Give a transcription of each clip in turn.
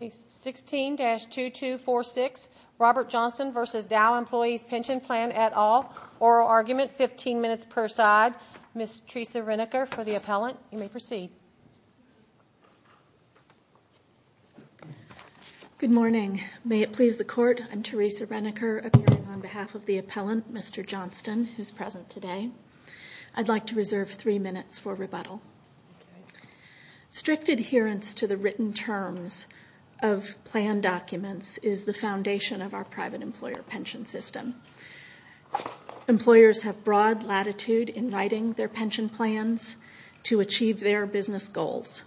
Page 16-2246, Robert Johnston v. Dow Employees Pension Plan et al. Oral argument, 15 minutes per side. Ms. Teresa Renneker for the appellant. You may proceed. Good morning. May it please the Court, I'm Teresa Renneker, appearing on behalf of the appellant, Mr. Johnston, who's present today. I'd like to reserve three minutes for rebuttal. Strict adherence to the written terms of plan documents is the foundation of our private employer pension system. Employers have broad latitude in writing their pension plans to achieve their business goals.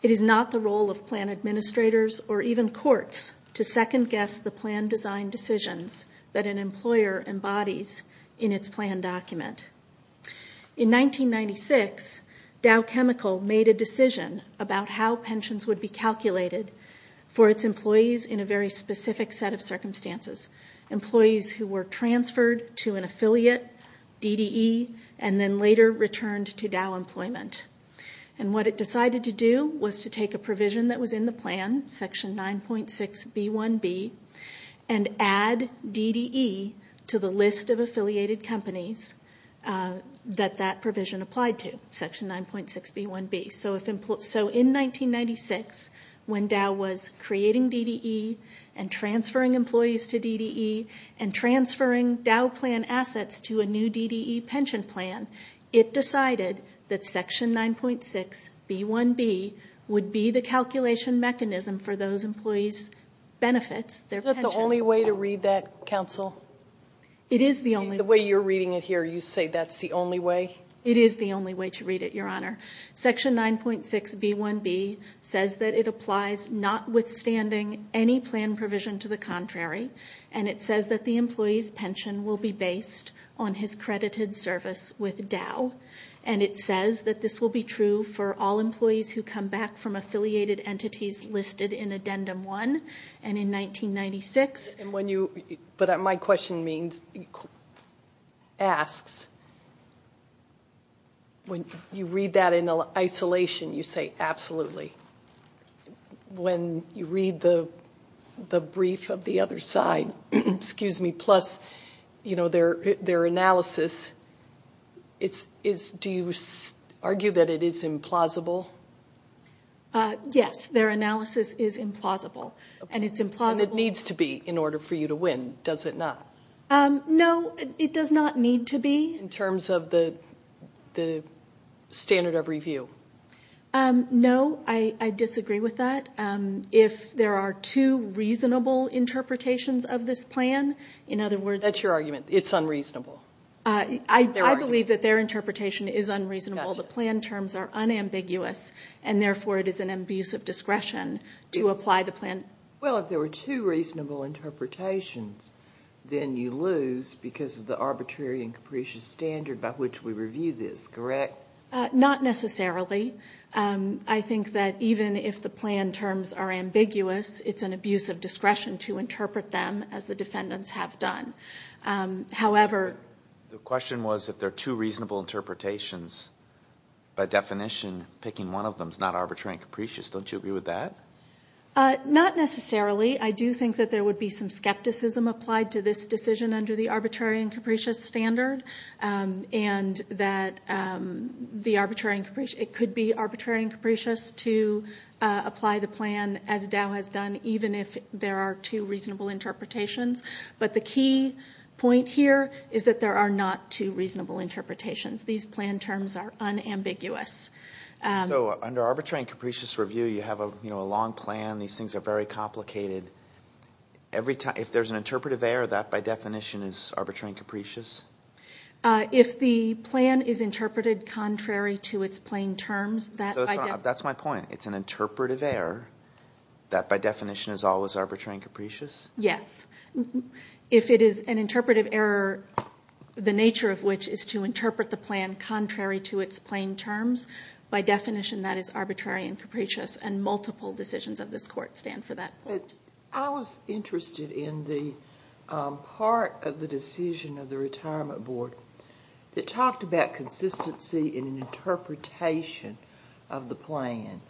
It is not the role of plan administrators or even courts to second-guess the plan design decisions that an employer embodies in its plan document. In 1996, Dow Chemical made a decision about how pensions would be calculated for its employees in a very specific set of circumstances. Employees who were transferred to an affiliate, DDE, and then later returned to Dow Employment. And what it decided to do was to take a provision that was in the plan, Section 9.6b1b, and add DDE to the list of affiliated companies that that provision applied to, Section 9.6b1b. So in 1996, when Dow was creating DDE and transferring employees to DDE and transferring Dow plan assets to a new DDE pension plan, it decided that Section 9.6b1b would be the calculation mechanism for those employees' benefits, their pensions. Is that the only way to read that, Counsel? It is the only way. The way you're reading it here, you say that's the only way? It is the only way to read it, Your Honor. Section 9.6b1b says that it applies notwithstanding any plan provision to the contrary, and it says that the employee's pension will be based on his credited service with Dow. And it says that this will be true for all employees who come back from affiliated entities listed in Addendum 1 and in 1996. But my question means, asks, when you read that in isolation, you say, absolutely. When you read the brief of the other side, excuse me, plus, you know, their analysis, do you argue that it is implausible? Yes, their analysis is implausible, and it's implausible. And it needs to be in order for you to win, does it not? No, it does not need to be. In terms of the standard of review? No, I disagree with that. If there are two reasonable interpretations of this plan, in other words. That's your argument. It's unreasonable. I believe that their interpretation is unreasonable. The plan terms are unambiguous, and therefore it is an abuse of discretion to apply the plan. Well, if there were two reasonable interpretations, then you lose because of the arbitrary and capricious standard by which we review this, correct? Not necessarily. I think that even if the plan terms are ambiguous, it's an abuse of discretion to interpret them as the defendants have done. However. The question was if there are two reasonable interpretations, by definition, picking one of them is not arbitrary and capricious. Don't you agree with that? Not necessarily. I do think that there would be some skepticism applied to this decision under the arbitrary and capricious standard. And that it could be arbitrary and capricious to apply the plan as Dow has done, even if there are two reasonable interpretations. But the key point here is that there are not two reasonable interpretations. These plan terms are unambiguous. So under arbitrary and capricious review, you have a long plan. These things are very complicated. If there's an interpretive error, that by definition is arbitrary and capricious? If the plan is interpreted contrary to its plain terms, that by definition. That's my point. It's an interpretive error that by definition is always arbitrary and capricious? Yes. If it is an interpretive error, the nature of which is to interpret the plan contrary to its plain terms, by definition that is arbitrary and capricious. And multiple decisions of this Court stand for that. I was interested in the part of the decision of the Retirement Board that talked about consistency in an interpretation of the plan.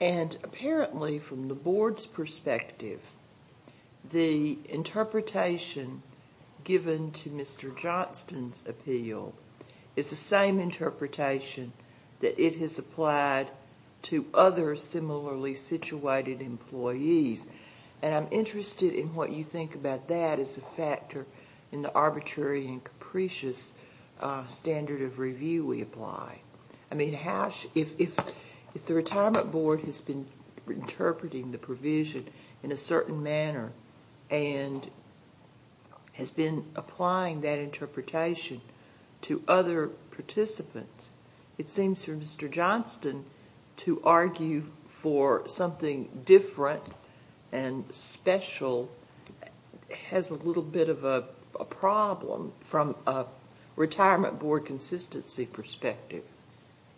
And apparently from the Board's perspective, the interpretation given to Mr. Johnston's appeal is the same interpretation that it has applied to other similarly situated employees. And I'm interested in what you think about that as a factor in the arbitrary and capricious standard of review we apply. I mean, if the Retirement Board has been interpreting the provision in a certain manner and has been applying that interpretation to other participants, it seems for Mr. Johnston to argue for something different and special has a little bit of a problem from a Retirement Board consistency perspective.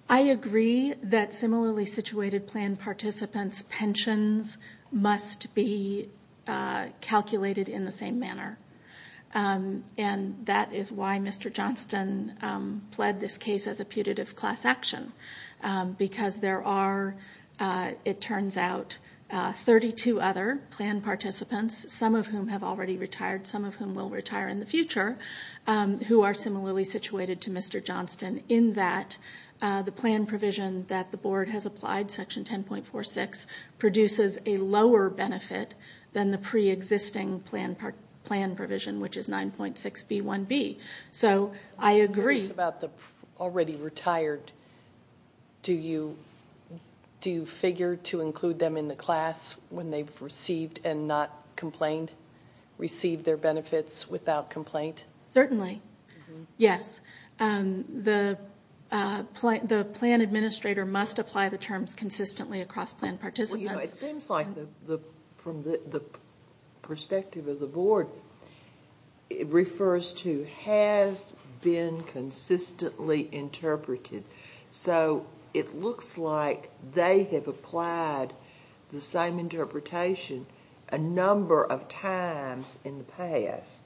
I agree that similarly situated plan participants' pensions must be calculated in the same manner. And that is why Mr. Johnston pled this case as a putative class action. Because there are, it turns out, 32 other plan participants, some of whom have already retired, some of whom will retire in the future, who are similarly situated to Mr. Johnston in that the plan provision that the Board has applied, Section 10.46, produces a lower benefit than the pre-existing plan provision, which is 9.6b1b. So I agree. As far as the already retired, do you figure to include them in the class when they've received and not complained, received their benefits without complaint? Certainly, yes. The plan administrator must apply the terms consistently across plan participants. It seems like from the perspective of the Board, it refers to has been consistently interpreted. So it looks like they have applied the same interpretation a number of times in the past.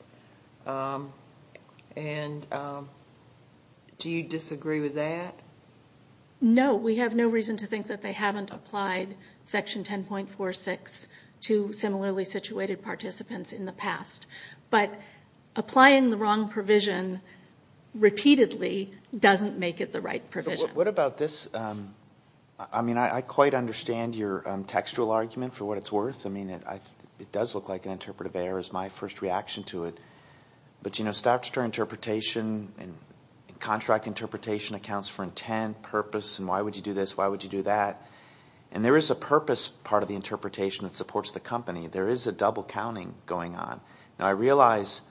And do you disagree with that? No, we have no reason to think that they haven't applied Section 10.46 to similarly situated participants in the past. But applying the wrong provision repeatedly doesn't make it the right provision. What about this? I mean, I quite understand your textual argument for what it's worth. I mean, it does look like an interpretive error is my first reaction to it. But statutory interpretation and contract interpretation accounts for intent, purpose, and why would you do this, why would you do that. And there is a purpose part of the interpretation that supports the company. There is a double counting going on. Now I realize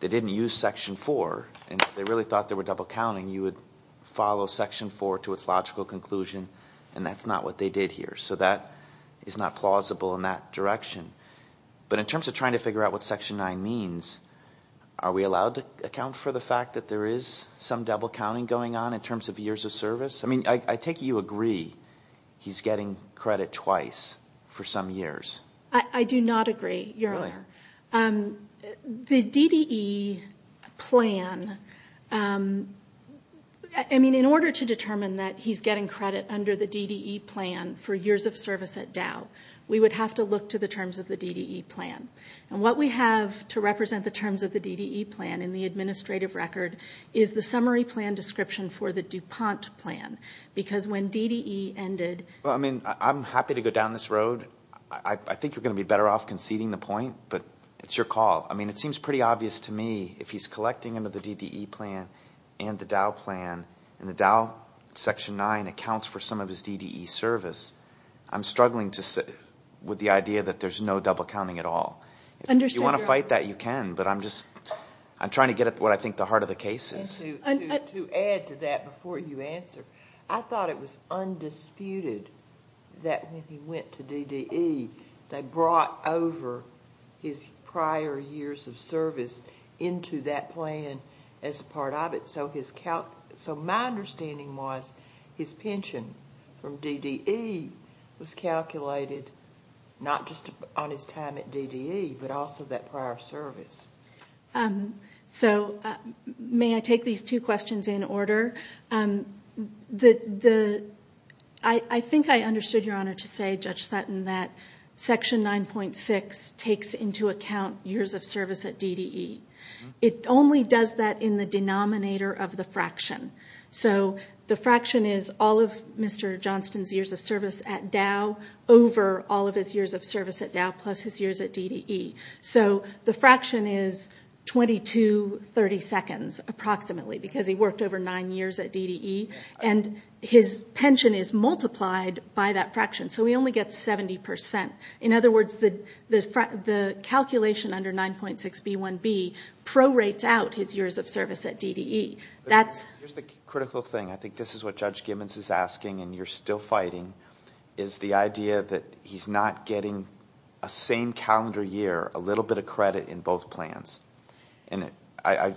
they didn't use Section 4, and they really thought there were double counting. You would follow Section 4 to its logical conclusion, and that's not what they did here. So that is not plausible in that direction. But in terms of trying to figure out what Section 9 means, are we allowed to account for the fact that there is some double counting going on in terms of years of service? I mean, I take it you agree he's getting credit twice for some years. I do not agree, Your Honor. Really? The DDE plan, I mean, in order to determine that he's getting credit under the DDE plan for years of service at Dow, we would have to look to the terms of the DDE plan. And what we have to represent the terms of the DDE plan in the administrative record is the summary plan description for the DuPont plan. Because when DDE ended – Well, I mean, I'm happy to go down this road. I think you're going to be better off conceding the point, but it's your call. I mean, it seems pretty obvious to me if he's collecting under the DDE plan and the Dow plan, and the Dow Section 9 accounts for some of his DDE service, I'm struggling with the idea that there's no double counting at all. If you want to fight that, you can, but I'm just – I'm trying to get at what I think the heart of the case is. And to add to that before you answer, I thought it was undisputed that when he went to DDE, they brought over his prior years of service into that plan as part of it. So my understanding was his pension from DDE was calculated not just on his time at DDE, but also that prior service. So may I take these two questions in order? I think I understood, Your Honor, to say, Judge Sutton, that Section 9.6 takes into account years of service at DDE. It only does that in the denominator of the fraction. So the fraction is all of Mr. Johnston's years of service at Dow over all of his years of service at Dow plus his years at DDE. So the fraction is 2232nds, approximately, because he worked over nine years at DDE. And his pension is multiplied by that fraction, so he only gets 70%. In other words, the calculation under 9.6b1b prorates out his years of service at DDE. That's... Here's the critical thing. I think this is what Judge Gibbons is asking, and you're still fighting, is the idea that he's not getting a same calendar year, a little bit of credit in both plans. And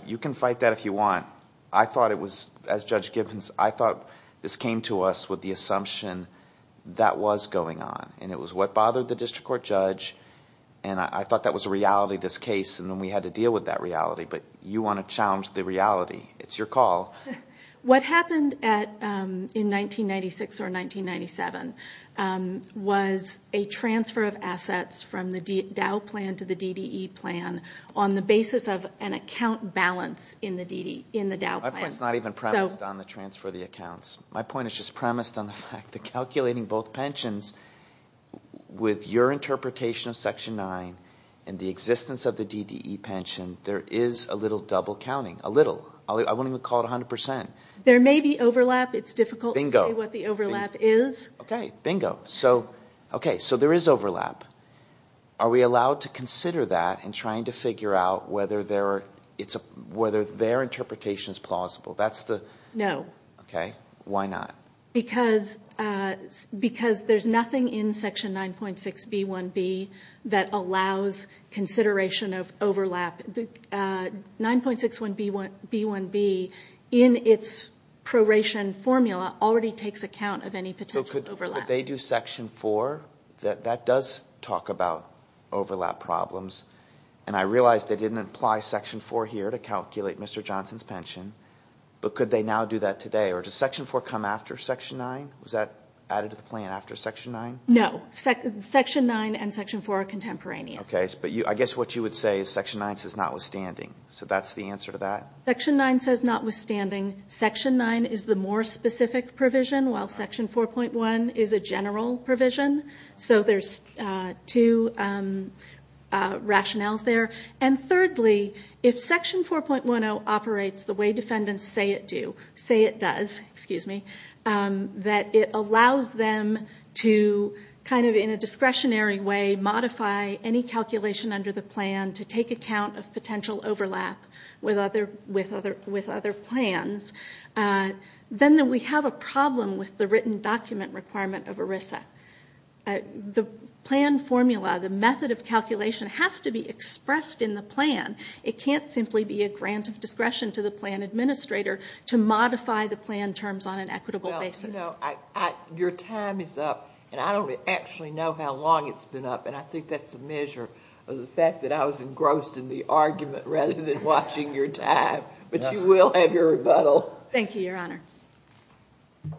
you can fight that if you want. I thought it was, as Judge Gibbons, I thought this came to us with the assumption that was going on. And it was what bothered the district court judge. And I thought that was a reality, this case, and then we had to deal with that reality. But you want to challenge the reality. It's your call. What happened in 1996 or 1997 was a transfer of assets from the Dow plan to the DDE plan on the basis of an account balance in the Dow plan. My point is not even premised on the transfer of the accounts. My point is just premised on the fact that calculating both pensions, with your interpretation of Section 9 and the existence of the DDE pension, there is a little double counting. A little. I wouldn't even call it 100%. There may be overlap. It's difficult to say what the overlap is. Okay. Bingo. So there is overlap. Are we allowed to consider that in trying to figure out whether their interpretation is plausible? No. Okay. Why not? Because there's nothing in Section 9.6b1b that allows consideration of overlap. 9.6b1b in its proration formula already takes account of any potential overlap. But could they do Section 4? That does talk about overlap problems. And I realize they didn't apply Section 4 here to calculate Mr. Johnson's pension. But could they now do that today? Or does Section 4 come after Section 9? Was that added to the plan after Section 9? No. Section 9 and Section 4 are contemporaneous. Okay. But I guess what you would say is Section 9 says notwithstanding. So that's the answer to that? Section 9 says notwithstanding. Section 9 is the more specific provision, while Section 4.1 is a general provision. So there's two rationales there. And thirdly, if Section 4.10 operates the way defendants say it does, that it allows them to kind of in a discretionary way modify any calculation under the plan to take account of potential overlap with other plans, then we have a problem with the written document requirement of ERISA. The plan formula, the method of calculation has to be expressed in the plan. It can't simply be a grant of discretion to the plan administrator to modify the plan terms on an equitable basis. Your time is up, and I don't actually know how long it's been up. And I think that's a measure of the fact that I was engrossed in the argument rather than watching your time. But you will have your rebuttal. Thank you, Your Honor. Thank you.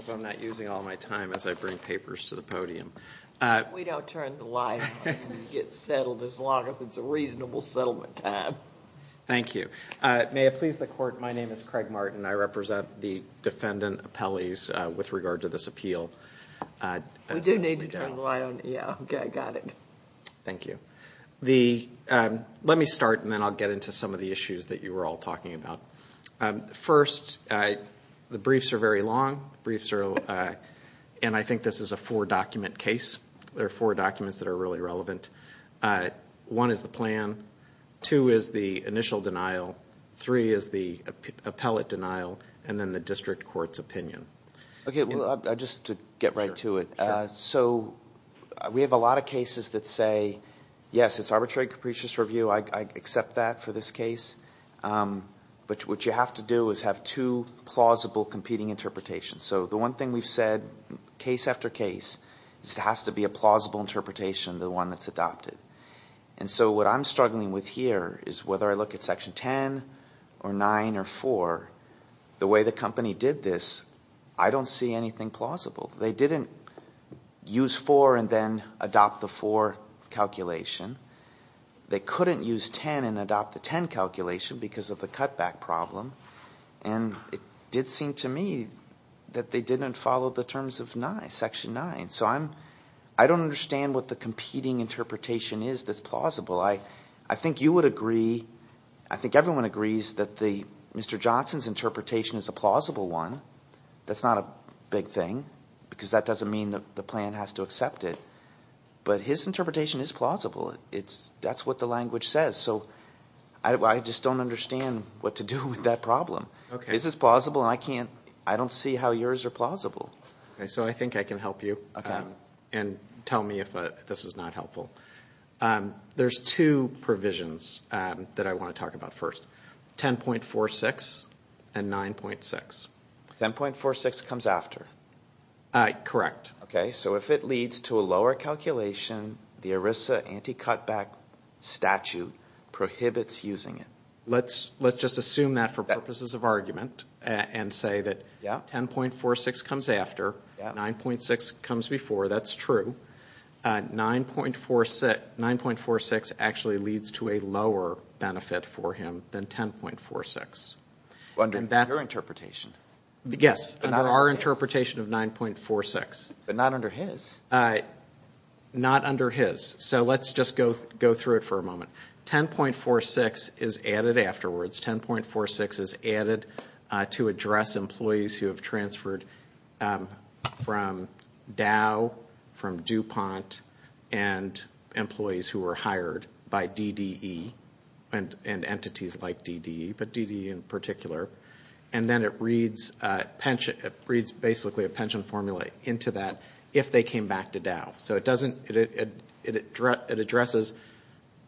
I hope I'm not using all my time as I bring papers to the podium. We don't turn the lights on and get settled as long as it's a reasonable settlement time. Thank you. May it please the Court, my name is Craig Martin. I represent the defendant appellees with regard to this appeal. We do need to turn the light on. Okay, I got it. Thank you. Let me start, and then I'll get into some of the issues that you were all talking about. First, the briefs are very long, and I think this is a four-document case. There are four documents that are really relevant. One is the plan, two is the initial denial, three is the appellate denial, and then the district court's opinion. Okay, just to get right to it. So we have a lot of cases that say, yes, it's arbitrary capricious review. I accept that for this case. But what you have to do is have two plausible competing interpretations. So the one thing we've said, case after case, is it has to be a plausible interpretation, the one that's adopted. And so what I'm struggling with here is whether I look at Section 10 or 9 or 4, the way the company did this, I don't see anything plausible. They didn't use 4 and then adopt the 4 calculation. They couldn't use 10 and adopt the 10 calculation because of the cutback problem. And it did seem to me that they didn't follow the terms of Section 9. So I don't understand what the competing interpretation is that's plausible. I think you would agree, I think everyone agrees, that Mr. Johnson's interpretation is a plausible one. That's not a big thing because that doesn't mean the plan has to accept it. But his interpretation is plausible. That's what the language says. So I just don't understand what to do with that problem. Is this plausible? And I don't see how yours are plausible. So I think I can help you and tell me if this is not helpful. There's two provisions that I want to talk about first, 10.46 and 9.6. 10.46 comes after? Correct. Okay, so if it leads to a lower calculation, the ERISA anti-cutback statute prohibits using it. Let's just assume that for purposes of argument and say that 10.46 comes after, 9.6 comes before. That's true. 9.46 actually leads to a lower benefit for him than 10.46. Under your interpretation. Yes, under our interpretation of 9.46. But not under his. Not under his. So let's just go through it for a moment. 10.46 is added afterwards. 10.46 is added to address employees who have transferred from Dow, from DuPont, and employees who were hired by DDE and entities like DDE, but DDE in particular. And then it reads basically a pension formula into that if they came back to Dow. So it addresses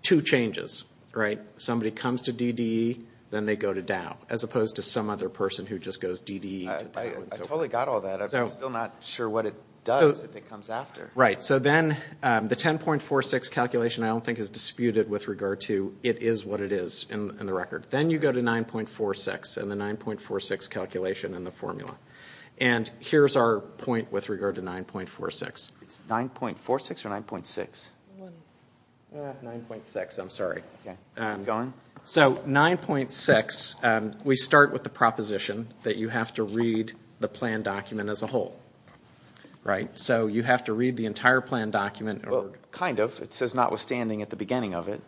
two changes, right? Somebody comes to DDE, then they go to Dow, as opposed to some other person who just goes DDE to Dow. I totally got all that. I'm still not sure what it does if it comes after. Right. So then the 10.46 calculation I don't think is disputed with regard to it is what it is in the record. Then you go to 9.46 and the 9.46 calculation in the formula. And here's our point with regard to 9.46. 9.46 or 9.6? 9.6, I'm sorry. So 9.6, we start with the proposition that you have to read the plan document as a whole. So you have to read the entire plan document. Kind of. It says notwithstanding at the beginning of it.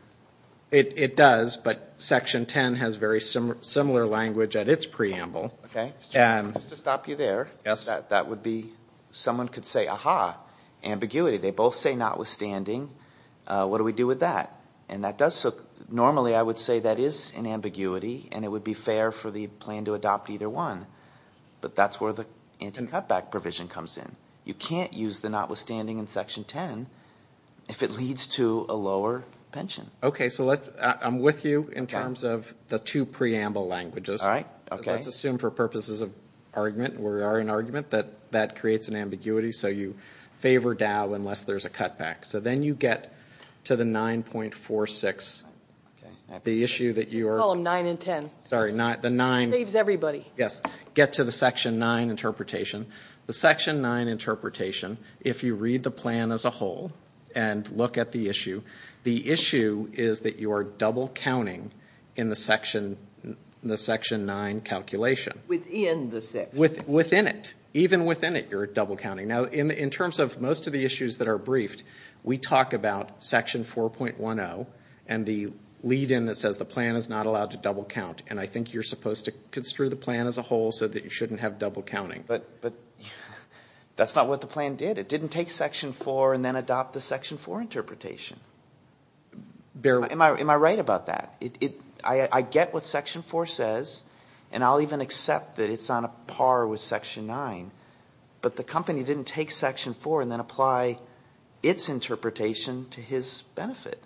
It does, but Section 10 has very similar language at its preamble. Just to stop you there, that would be someone could say, aha, ambiguity. They both say notwithstanding. What do we do with that? Normally I would say that is an ambiguity, and it would be fair for the plan to adopt either one. But that's where the anti-cutback provision comes in. You can't use the notwithstanding in Section 10 if it leads to a lower pension. Okay. So I'm with you in terms of the two preamble languages. All right. Okay. Let's assume for purposes of argument, we are in argument, that that creates an ambiguity. So you favor Dow unless there's a cutback. So then you get to the 9.46, the issue that you are. Let's call them 9 and 10. Sorry, the 9. Saves everybody. Yes. Get to the Section 9 interpretation. The Section 9 interpretation, if you read the plan as a whole and look at the issue, the issue is that you are double-counting in the Section 9 calculation. Within the section. Within it. Even within it you're double-counting. Now, in terms of most of the issues that are briefed, we talk about Section 4.10 and the lead-in that says the plan is not allowed to double-count. And I think you're supposed to construe the plan as a whole so that you shouldn't have double-counting. But that's not what the plan did. It didn't take Section 4 and then adopt the Section 4 interpretation. Am I right about that? I get what Section 4 says, and I'll even accept that it's on a par with Section 9. But the company didn't take Section 4 and then apply its interpretation to his benefit.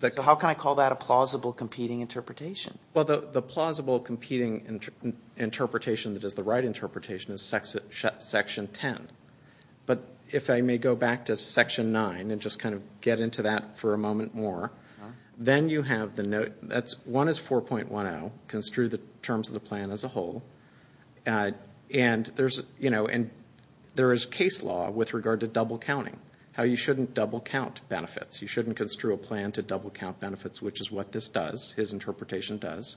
So how can I call that a plausible competing interpretation? Well, the plausible competing interpretation that is the right interpretation is Section 10. But if I may go back to Section 9 and just kind of get into that for a moment more, then you have the note that 1 is 4.10, construe the terms of the plan as a whole, and there is case law with regard to double-counting, how you shouldn't double-count benefits. You shouldn't construe a plan to double-count benefits, which is what this does, his interpretation does.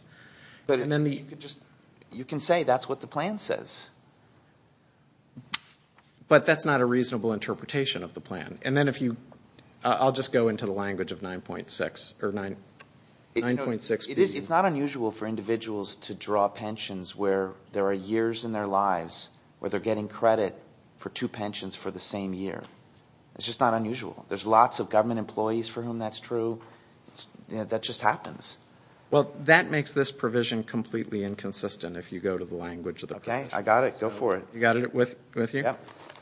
You can say that's what the plan says. But that's not a reasonable interpretation of the plan. And then if you – I'll just go into the language of 9.6. It's not unusual for individuals to draw pensions where there are years in their lives where they're getting credit for two pensions for the same year. It's just not unusual. There's lots of government employees for whom that's true. That just happens. Well, that makes this provision completely inconsistent if you go to the language of the provision. Okay, I got it. Go for it. You got it with you?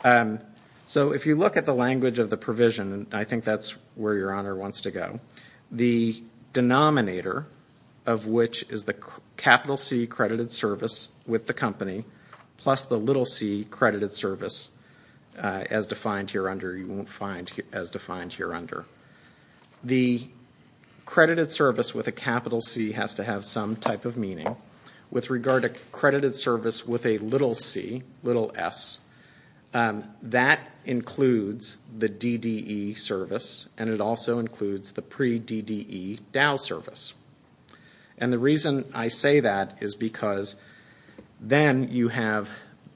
Yeah. So if you look at the language of the provision, I think that's where Your Honor wants to go, the denominator of which is the capital C credited service with the company plus the little c credited service as defined here under, you won't find as defined here under. The credited service with a capital C has to have some type of meaning. With regard to credited service with a little c, little s, that includes the DDE service, and it also includes the pre-DDE Dow service. And the reason I say that is because then you have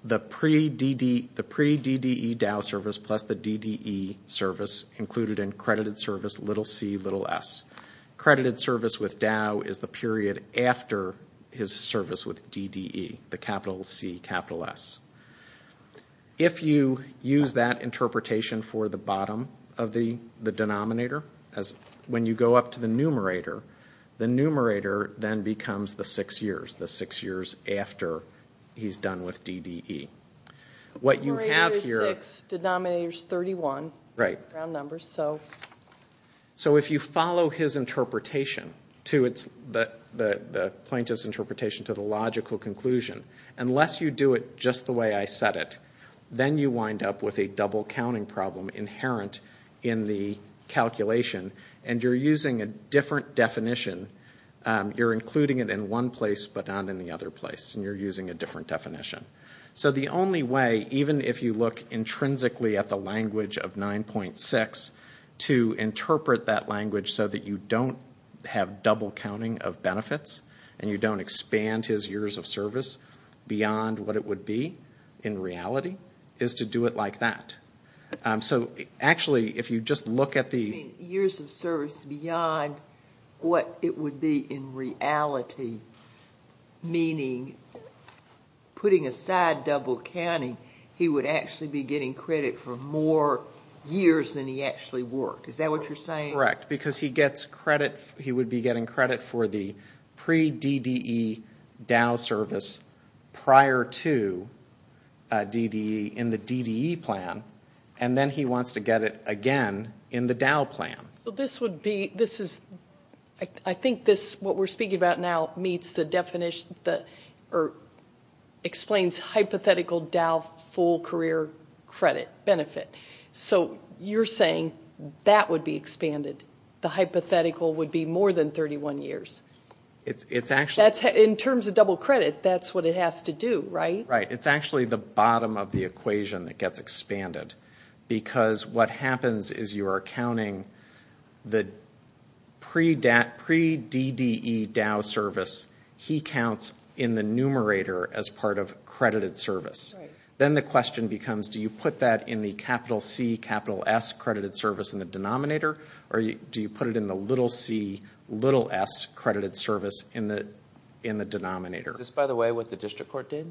the pre-DDE Dow service plus the DDE service included in credited service little c, little s. Credited service with Dow is the period after his service with DDE, the capital C, capital S. If you use that interpretation for the bottom of the denominator, when you go up to the numerator, the numerator then becomes the six years, the six years after he's done with DDE. What you have here- Numerator's six, denominator's 31. Right. Round numbers, so. So if you follow his interpretation to the plaintiff's interpretation to the logical conclusion, unless you do it just the way I said it, then you wind up with a double counting problem inherent in the calculation, and you're using a different definition. You're including it in one place but not in the other place, and you're using a different definition. So the only way, even if you look intrinsically at the language of 9.6, to interpret that language so that you don't have double counting of benefits and you don't expand his years of service beyond what it would be in reality is to do it like that. So actually, if you just look at the- he would actually be getting credit for more years than he actually worked. Is that what you're saying? Correct, because he would be getting credit for the pre-DDE Dow service prior to DDE in the DDE plan, and then he wants to get it again in the Dow plan. So this would be- this is- I think what we're speaking about now meets the definition- or explains hypothetical Dow full career credit benefit. So you're saying that would be expanded. The hypothetical would be more than 31 years. It's actually- In terms of double credit, that's what it has to do, right? Right. It's actually the bottom of the equation that gets expanded, because what happens is you are counting the pre-DDE Dow service. He counts in the numerator as part of credited service. Right. Then the question becomes, do you put that in the capital C, capital S credited service in the denominator, or do you put it in the little c, little s credited service in the denominator? Is this, by the way, what the district court did?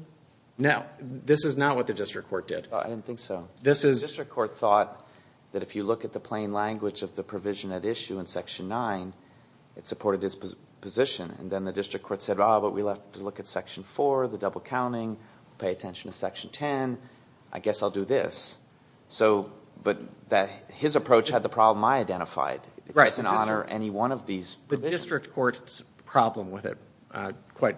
No, this is not what the district court did. I didn't think so. The district court thought that if you look at the plain language of the provision at issue in Section 9, it supported his position, and then the district court said, oh, but we'll have to look at Section 4, the double counting. Pay attention to Section 10. I guess I'll do this. But his approach had the problem I identified. Right. It doesn't honor any one of these provisions. The district court's problem with it quite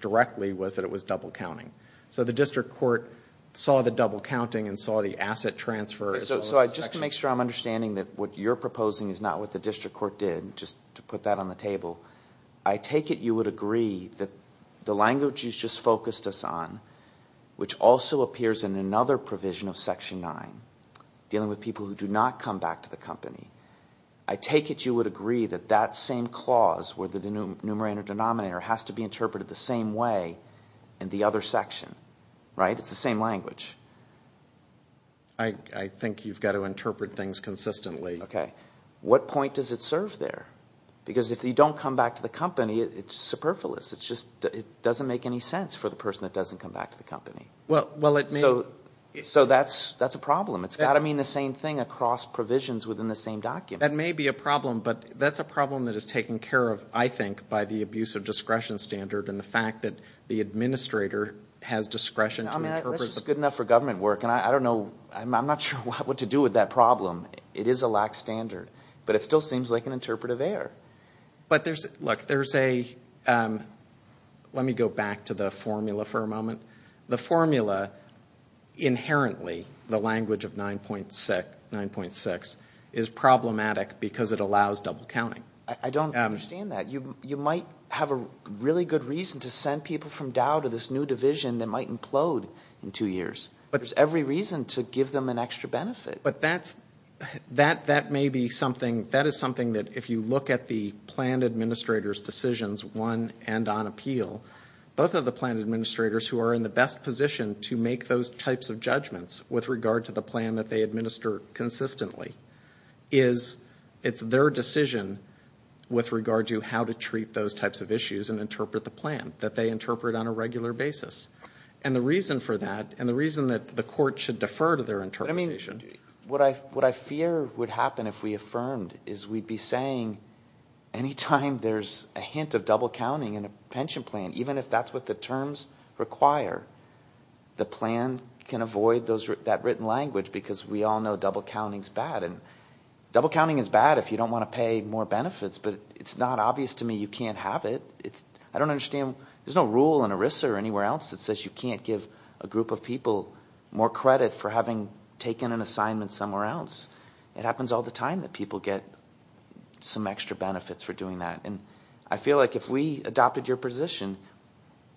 directly was that it was double counting. So the district court saw the double counting and saw the asset transfer. So just to make sure I'm understanding that what you're proposing is not what the district court did, just to put that on the table, I take it you would agree that the language you just focused us on, which also appears in another provision of Section 9, dealing with people who do not come back to the company, I take it you would agree that that same clause where the numerator and denominator has to be interpreted the same way in the other section, right? It's the same language. I think you've got to interpret things consistently. Okay. What point does it serve there? Because if you don't come back to the company, it's superfluous. It just doesn't make any sense for the person that doesn't come back to the company. So that's a problem. It's got to mean the same thing across provisions within the same document. That may be a problem, but that's a problem that is taken care of, I think, by the abuse of discretion standard and the fact that the administrator has discretion to interpret. I mean, that's good enough for government work, and I don't know, I'm not sure what to do with that problem. It is a lax standard, but it still seems like an interpretive error. But there's, look, there's a, let me go back to the formula for a moment. The formula inherently, the language of 9.6, is problematic because it allows double counting. I don't understand that. You might have a really good reason to send people from Dow to this new division that might implode in two years. But there's every reason to give them an extra benefit. But that's, that may be something, that is something that if you look at the plan administrator's decisions, one and on appeal, both of the plan administrators who are in the best position to make those types of judgments with regard to the plan that they administer consistently, is, it's their decision with regard to how to treat those types of issues and interpret the plan that they interpret on a regular basis. And the reason for that, and the reason that the court should defer to their interpretation. I mean, what I fear would happen if we affirmed is we'd be saying, any time there's a hint of double counting in a pension plan, even if that's what the terms require, the plan can avoid that written language because we all know double counting's bad. And double counting is bad if you don't want to pay more benefits, but it's not obvious to me you can't have it. I don't understand, there's no rule in ERISA or anywhere else that says you can't give a group of people more credit for having taken an assignment somewhere else. It happens all the time that people get some extra benefits for doing that. And I feel like if we adopted your position,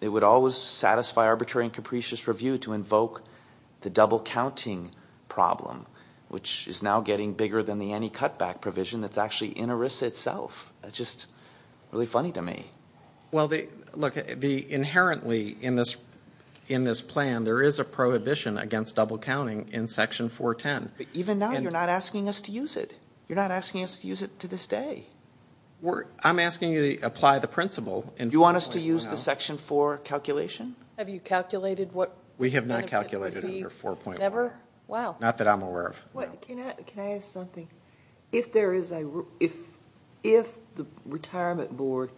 it would always satisfy arbitrary and capricious review to invoke the double counting problem, which is now getting bigger than the any cutback provision that's actually in ERISA itself. It's just really funny to me. Well, look, inherently in this plan, there is a prohibition against double counting in section 410. Even now, you're not asking us to use it. You're not asking us to use it to this day. I'm asking you to apply the principle. You want us to use the section 4 calculation? Have you calculated what? We have not calculated under 4.1. Never? Wow. Not that I'm aware of. Can I ask something? If the retirement board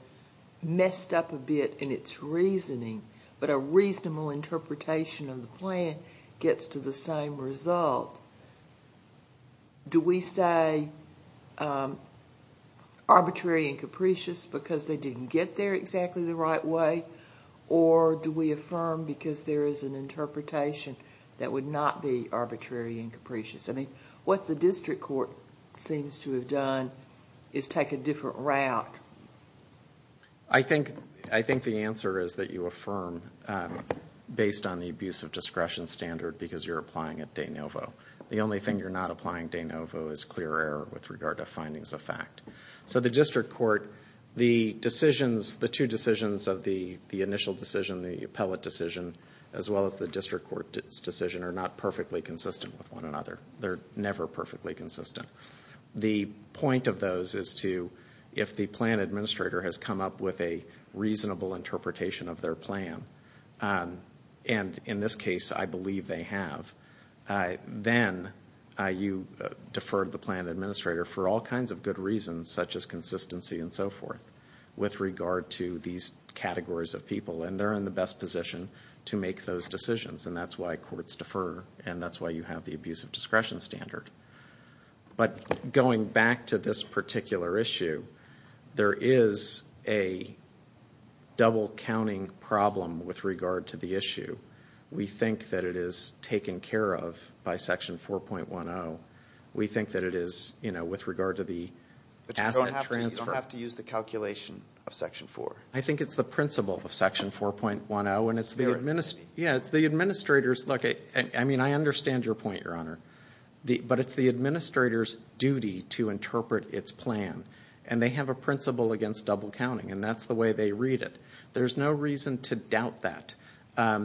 messed up a bit in its reasoning, but a reasonable interpretation of the plan gets to the same result, do we say arbitrary and capricious because they didn't get there exactly the right way, or do we affirm because there is an interpretation that would not be arbitrary and capricious? I mean, what the district court seems to have done is take a different route. I think the answer is that you affirm based on the abuse of discretion standard because you're applying it de novo. The only thing you're not applying de novo is clear error with regard to findings of fact. So the district court, the decisions, the two decisions of the initial decision, the appellate decision, as well as the district court's decision are not perfectly consistent with one another. They're never perfectly consistent. The point of those is to, if the plan administrator has come up with a reasonable interpretation of their plan, and in this case I believe they have, then you defer the plan administrator for all kinds of good reasons such as consistency and so forth with regard to these categories of people, and they're in the best position to make those decisions, and that's why courts defer, and that's why you have the abuse of discretion standard. But going back to this particular issue, there is a double-counting problem with regard to the issue. We think that it is taken care of by Section 4.10. We think that it is, you know, with regard to the asset transfer. But you don't have to use the calculation of Section 4. I think it's the principle of Section 4.10, and it's the administrator's. Look, I mean, I understand your point, Your Honor. But it's the administrator's duty to interpret its plan, and they have a principle against double-counting, and that's the way they read it. There's no reason to doubt that.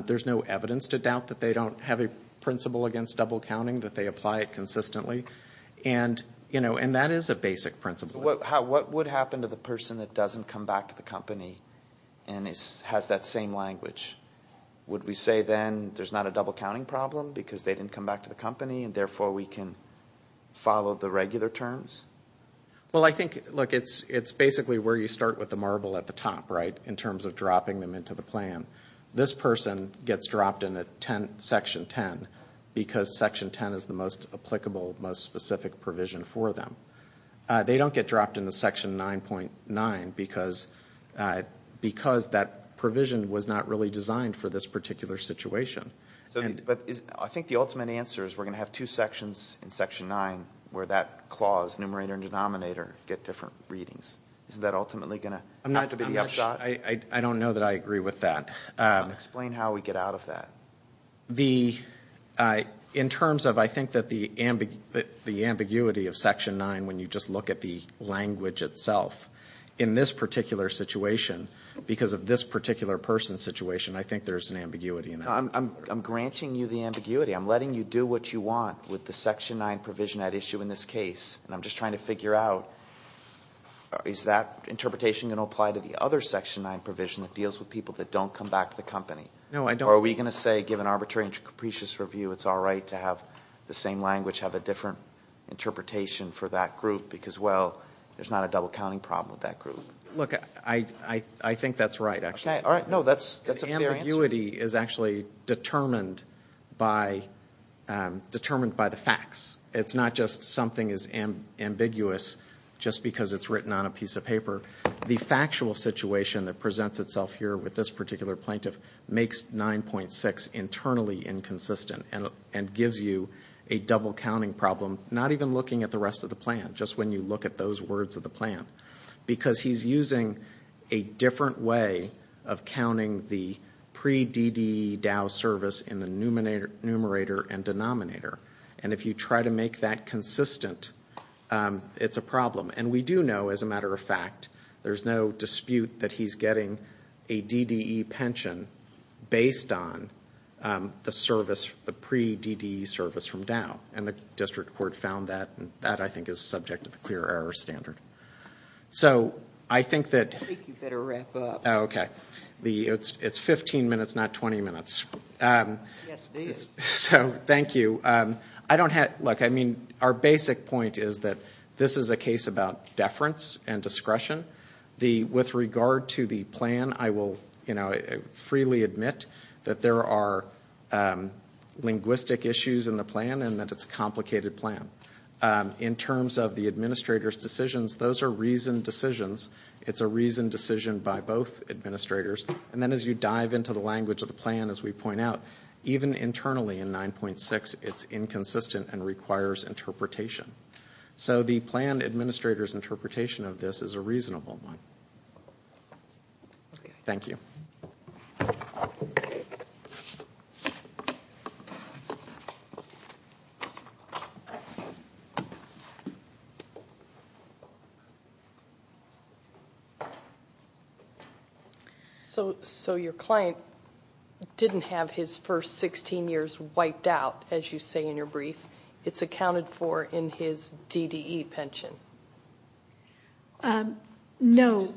There's no evidence to doubt that they don't have a principle against double-counting, that they apply it consistently, and, you know, and that is a basic principle. What would happen to the person that doesn't come back to the company and has that same language? Would we say then there's not a double-counting problem because they didn't come back to the company, and therefore we can follow the regular terms? Well, I think, look, it's basically where you start with the marble at the top, right, in terms of dropping them into the plan. This person gets dropped into Section 10 because Section 10 is the most applicable, most specific provision for them. They don't get dropped into Section 9.9 because that provision was not really designed for this particular situation. But I think the ultimate answer is we're going to have two sections in Section 9 where that clause, numerator and denominator, get different readings. Isn't that ultimately going to have to be the upshot? I don't know that I agree with that. Explain how we get out of that. In terms of I think that the ambiguity of Section 9 when you just look at the language itself, in this particular situation, because of this particular person's situation, I think there's an ambiguity in that. I'm granting you the ambiguity. I'm letting you do what you want with the Section 9 provision at issue in this case, and I'm just trying to figure out is that interpretation going to apply to the other Section 9 provision that deals with people that don't come back to the company? No, I don't. Or are we going to say, given arbitrary and capricious review, it's all right to have the same language have a different interpretation for that group because, well, there's not a double-counting problem with that group? Look, I think that's right, actually. No, that's a fair answer. Ambiguity is actually determined by the facts. It's not just something is ambiguous just because it's written on a piece of paper. The factual situation that presents itself here with this particular plaintiff makes 9.6 internally inconsistent and gives you a double-counting problem, not even looking at the rest of the plan, just when you look at those words of the plan, because he's using a different way of counting the pre-DDE DAO service in the numerator and denominator. And if you try to make that consistent, it's a problem. And we do know, as a matter of fact, there's no dispute that he's getting a DDE pension based on the service, the pre-DDE service from DAO. And the district court found that, and that, I think, is subject to the clear error standard. So I think that... I think you better wrap up. Oh, okay. It's 15 minutes, not 20 minutes. Yes, it is. So thank you. Look, I mean, our basic point is that this is a case about deference and discretion. With regard to the plan, I will freely admit that there are linguistic issues in the plan and that it's a complicated plan. In terms of the administrator's decisions, those are reasoned decisions. It's a reasoned decision by both administrators. And then as you dive into the language of the plan, as we point out, even internally in 9.6, it's inconsistent and requires interpretation. So the plan administrator's interpretation of this is a reasonable one. Thank you. Thank you. So your client didn't have his first 16 years wiped out, as you say in your brief. It's accounted for in his DDE pension. No.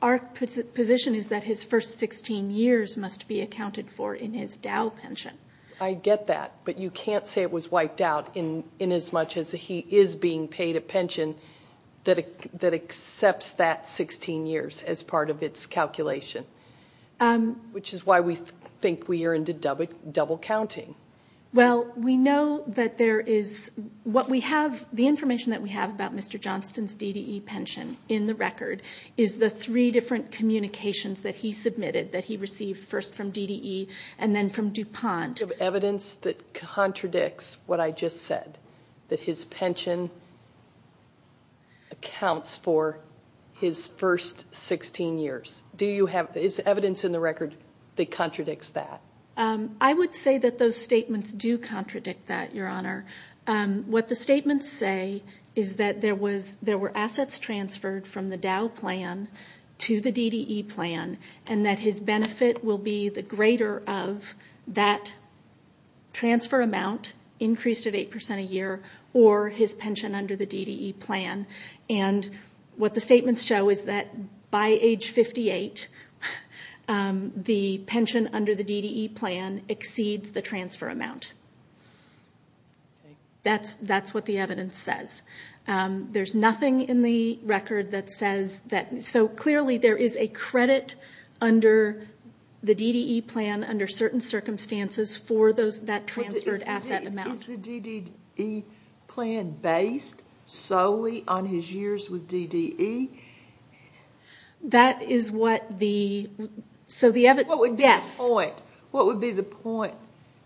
Our position is that his first 16 years must be accounted for in his DOW pension. I get that, but you can't say it was wiped out in as much as he is being paid a pension that accepts that 16 years as part of its calculation, which is why we think we are into double counting. Well, we know that there is what we have, the information that we have about Mr. Johnston's DDE pension in the record is the three different communications that he submitted that he received first from DDE and then from DuPont. Do you have evidence that contradicts what I just said, that his pension accounts for his first 16 years? Do you have evidence in the record that contradicts that? I would say that those statements do contradict that, Your Honor. What the statements say is that there were assets transferred from the DOW plan to the DDE plan and that his benefit will be the greater of that transfer amount increased at 8% a year or his pension under the DDE plan. And what the statements show is that by age 58, the pension under the DDE plan exceeds the transfer amount. That's what the evidence says. There's nothing in the record that says that. So clearly there is a credit under the DDE plan under certain circumstances for that transferred asset amount. Is the DDE plan based solely on his years with DDE? That is what the, so the evidence, yes. What would be the point? What would be the point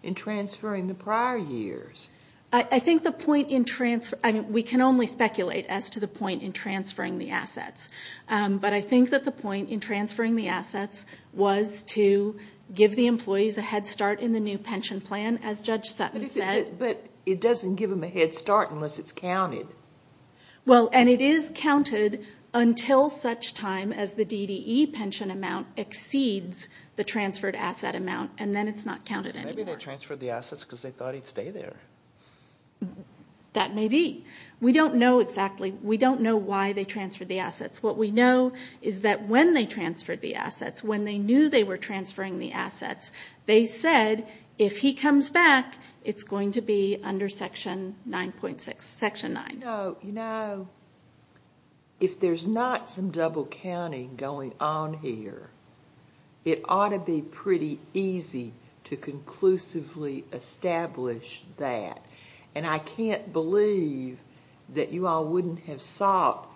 in transferring the prior years? I think the point in transfer, I mean, we can only speculate as to the point in transferring the assets. But I think that the point in transferring the assets was to give the employees a head start in the new pension plan, as Judge Sutton said. But it doesn't give them a head start unless it's counted. Well, and it is counted until such time as the DDE pension amount exceeds the transferred asset amount, and then it's not counted anymore. Maybe they transferred the assets because they thought he'd stay there. That may be. We don't know exactly. We don't know why they transferred the assets. What we know is that when they transferred the assets, when they knew they were transferring the assets, they said if he comes back, it's going to be under Section 9.6, Section 9. No, you know, if there's not some double counting going on here, it ought to be pretty easy to conclusively establish that. And I can't believe that you all wouldn't have sought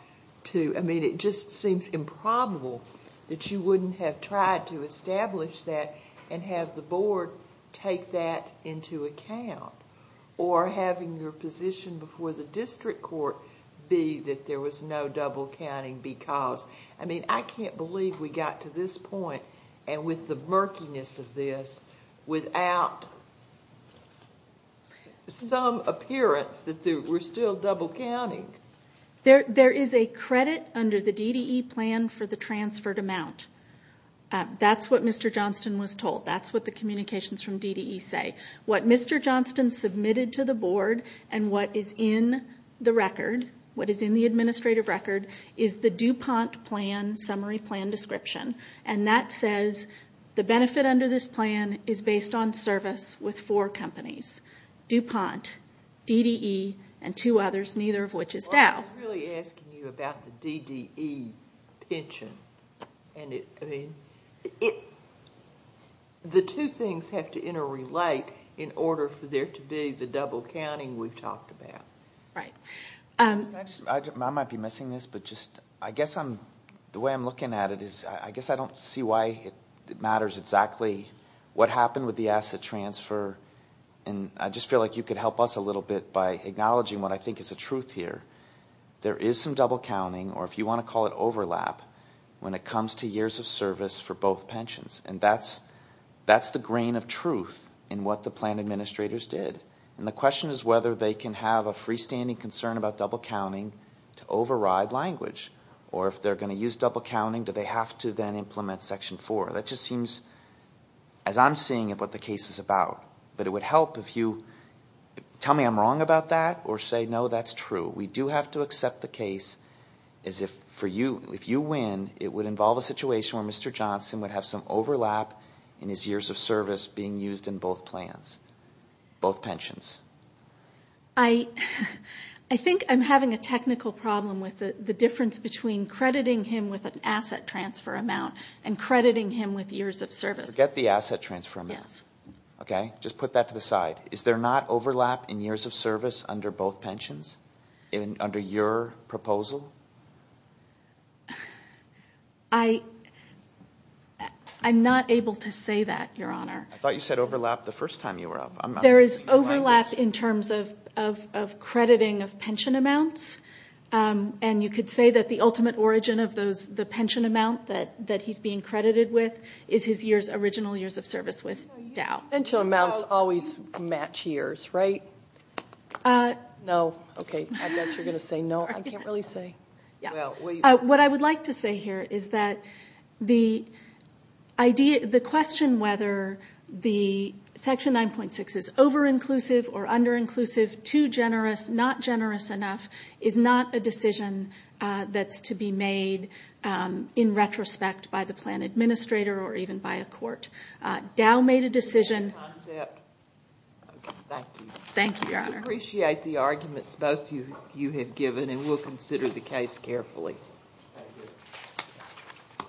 to, I mean, it just seems improbable that you wouldn't have tried to establish that and have the board take that into account, or having your position before the district court be that there was no double counting because, I mean, I can't believe we got to this point, and with the murkiness of this, without some appearance that we're still double counting. There is a credit under the DDE plan for the transferred amount. That's what Mr. Johnston was told. That's what the communications from DDE say. What Mr. Johnston submitted to the board and what is in the record, what is in the administrative record, is the DuPont plan summary plan description, and that says the benefit under this plan is based on service with four companies, DuPont, DDE, and two others, neither of which is Dow. I was really asking you about the DDE pension. I mean, the two things have to interrelate in order for there to be the double counting we've talked about. Right. I might be missing this, but just, I guess the way I'm looking at it is, I guess I don't see why it matters exactly what happened with the asset transfer, and I just feel like you could help us a little bit by acknowledging what I think is the truth here. There is some double counting, or if you want to call it overlap, when it comes to years of service for both pensions, and that's the grain of truth in what the plan administrators did, and the question is whether they can have a freestanding concern about double counting to override language, or if they're going to use double counting, do they have to then implement Section 4? That just seems, as I'm seeing it, what the case is about. But it would help if you tell me I'm wrong about that or say, no, that's true. We do have to accept the case as if for you, if you win, it would involve a situation where Mr. Johnson would have some overlap in his years of service being used in both plans, both pensions. I think I'm having a technical problem with the difference between crediting him with an asset transfer amount and crediting him with years of service. Forget the asset transfer amount. Yes. Okay? Just put that to the side. Is there not overlap in years of service under both pensions under your proposal? I'm not able to say that, Your Honor. I thought you said overlap the first time you were up. There is overlap in terms of crediting of pension amounts, and you could say that the ultimate origin of the pension amount that he's being credited with is his original years of service with Dow. Pension amounts always match years, right? No. Okay, I bet you're going to say no. I can't really say. What I would like to say here is that the question whether the Section 9.6 is over-inclusive or under-inclusive, too generous, not generous enough, is not a decision that's to be made in retrospect by the plan administrator or even by a court. Dow made a decision. Thank you. Thank you, Your Honor. We appreciate the arguments both of you have given, and we'll consider the case carefully. Thank you.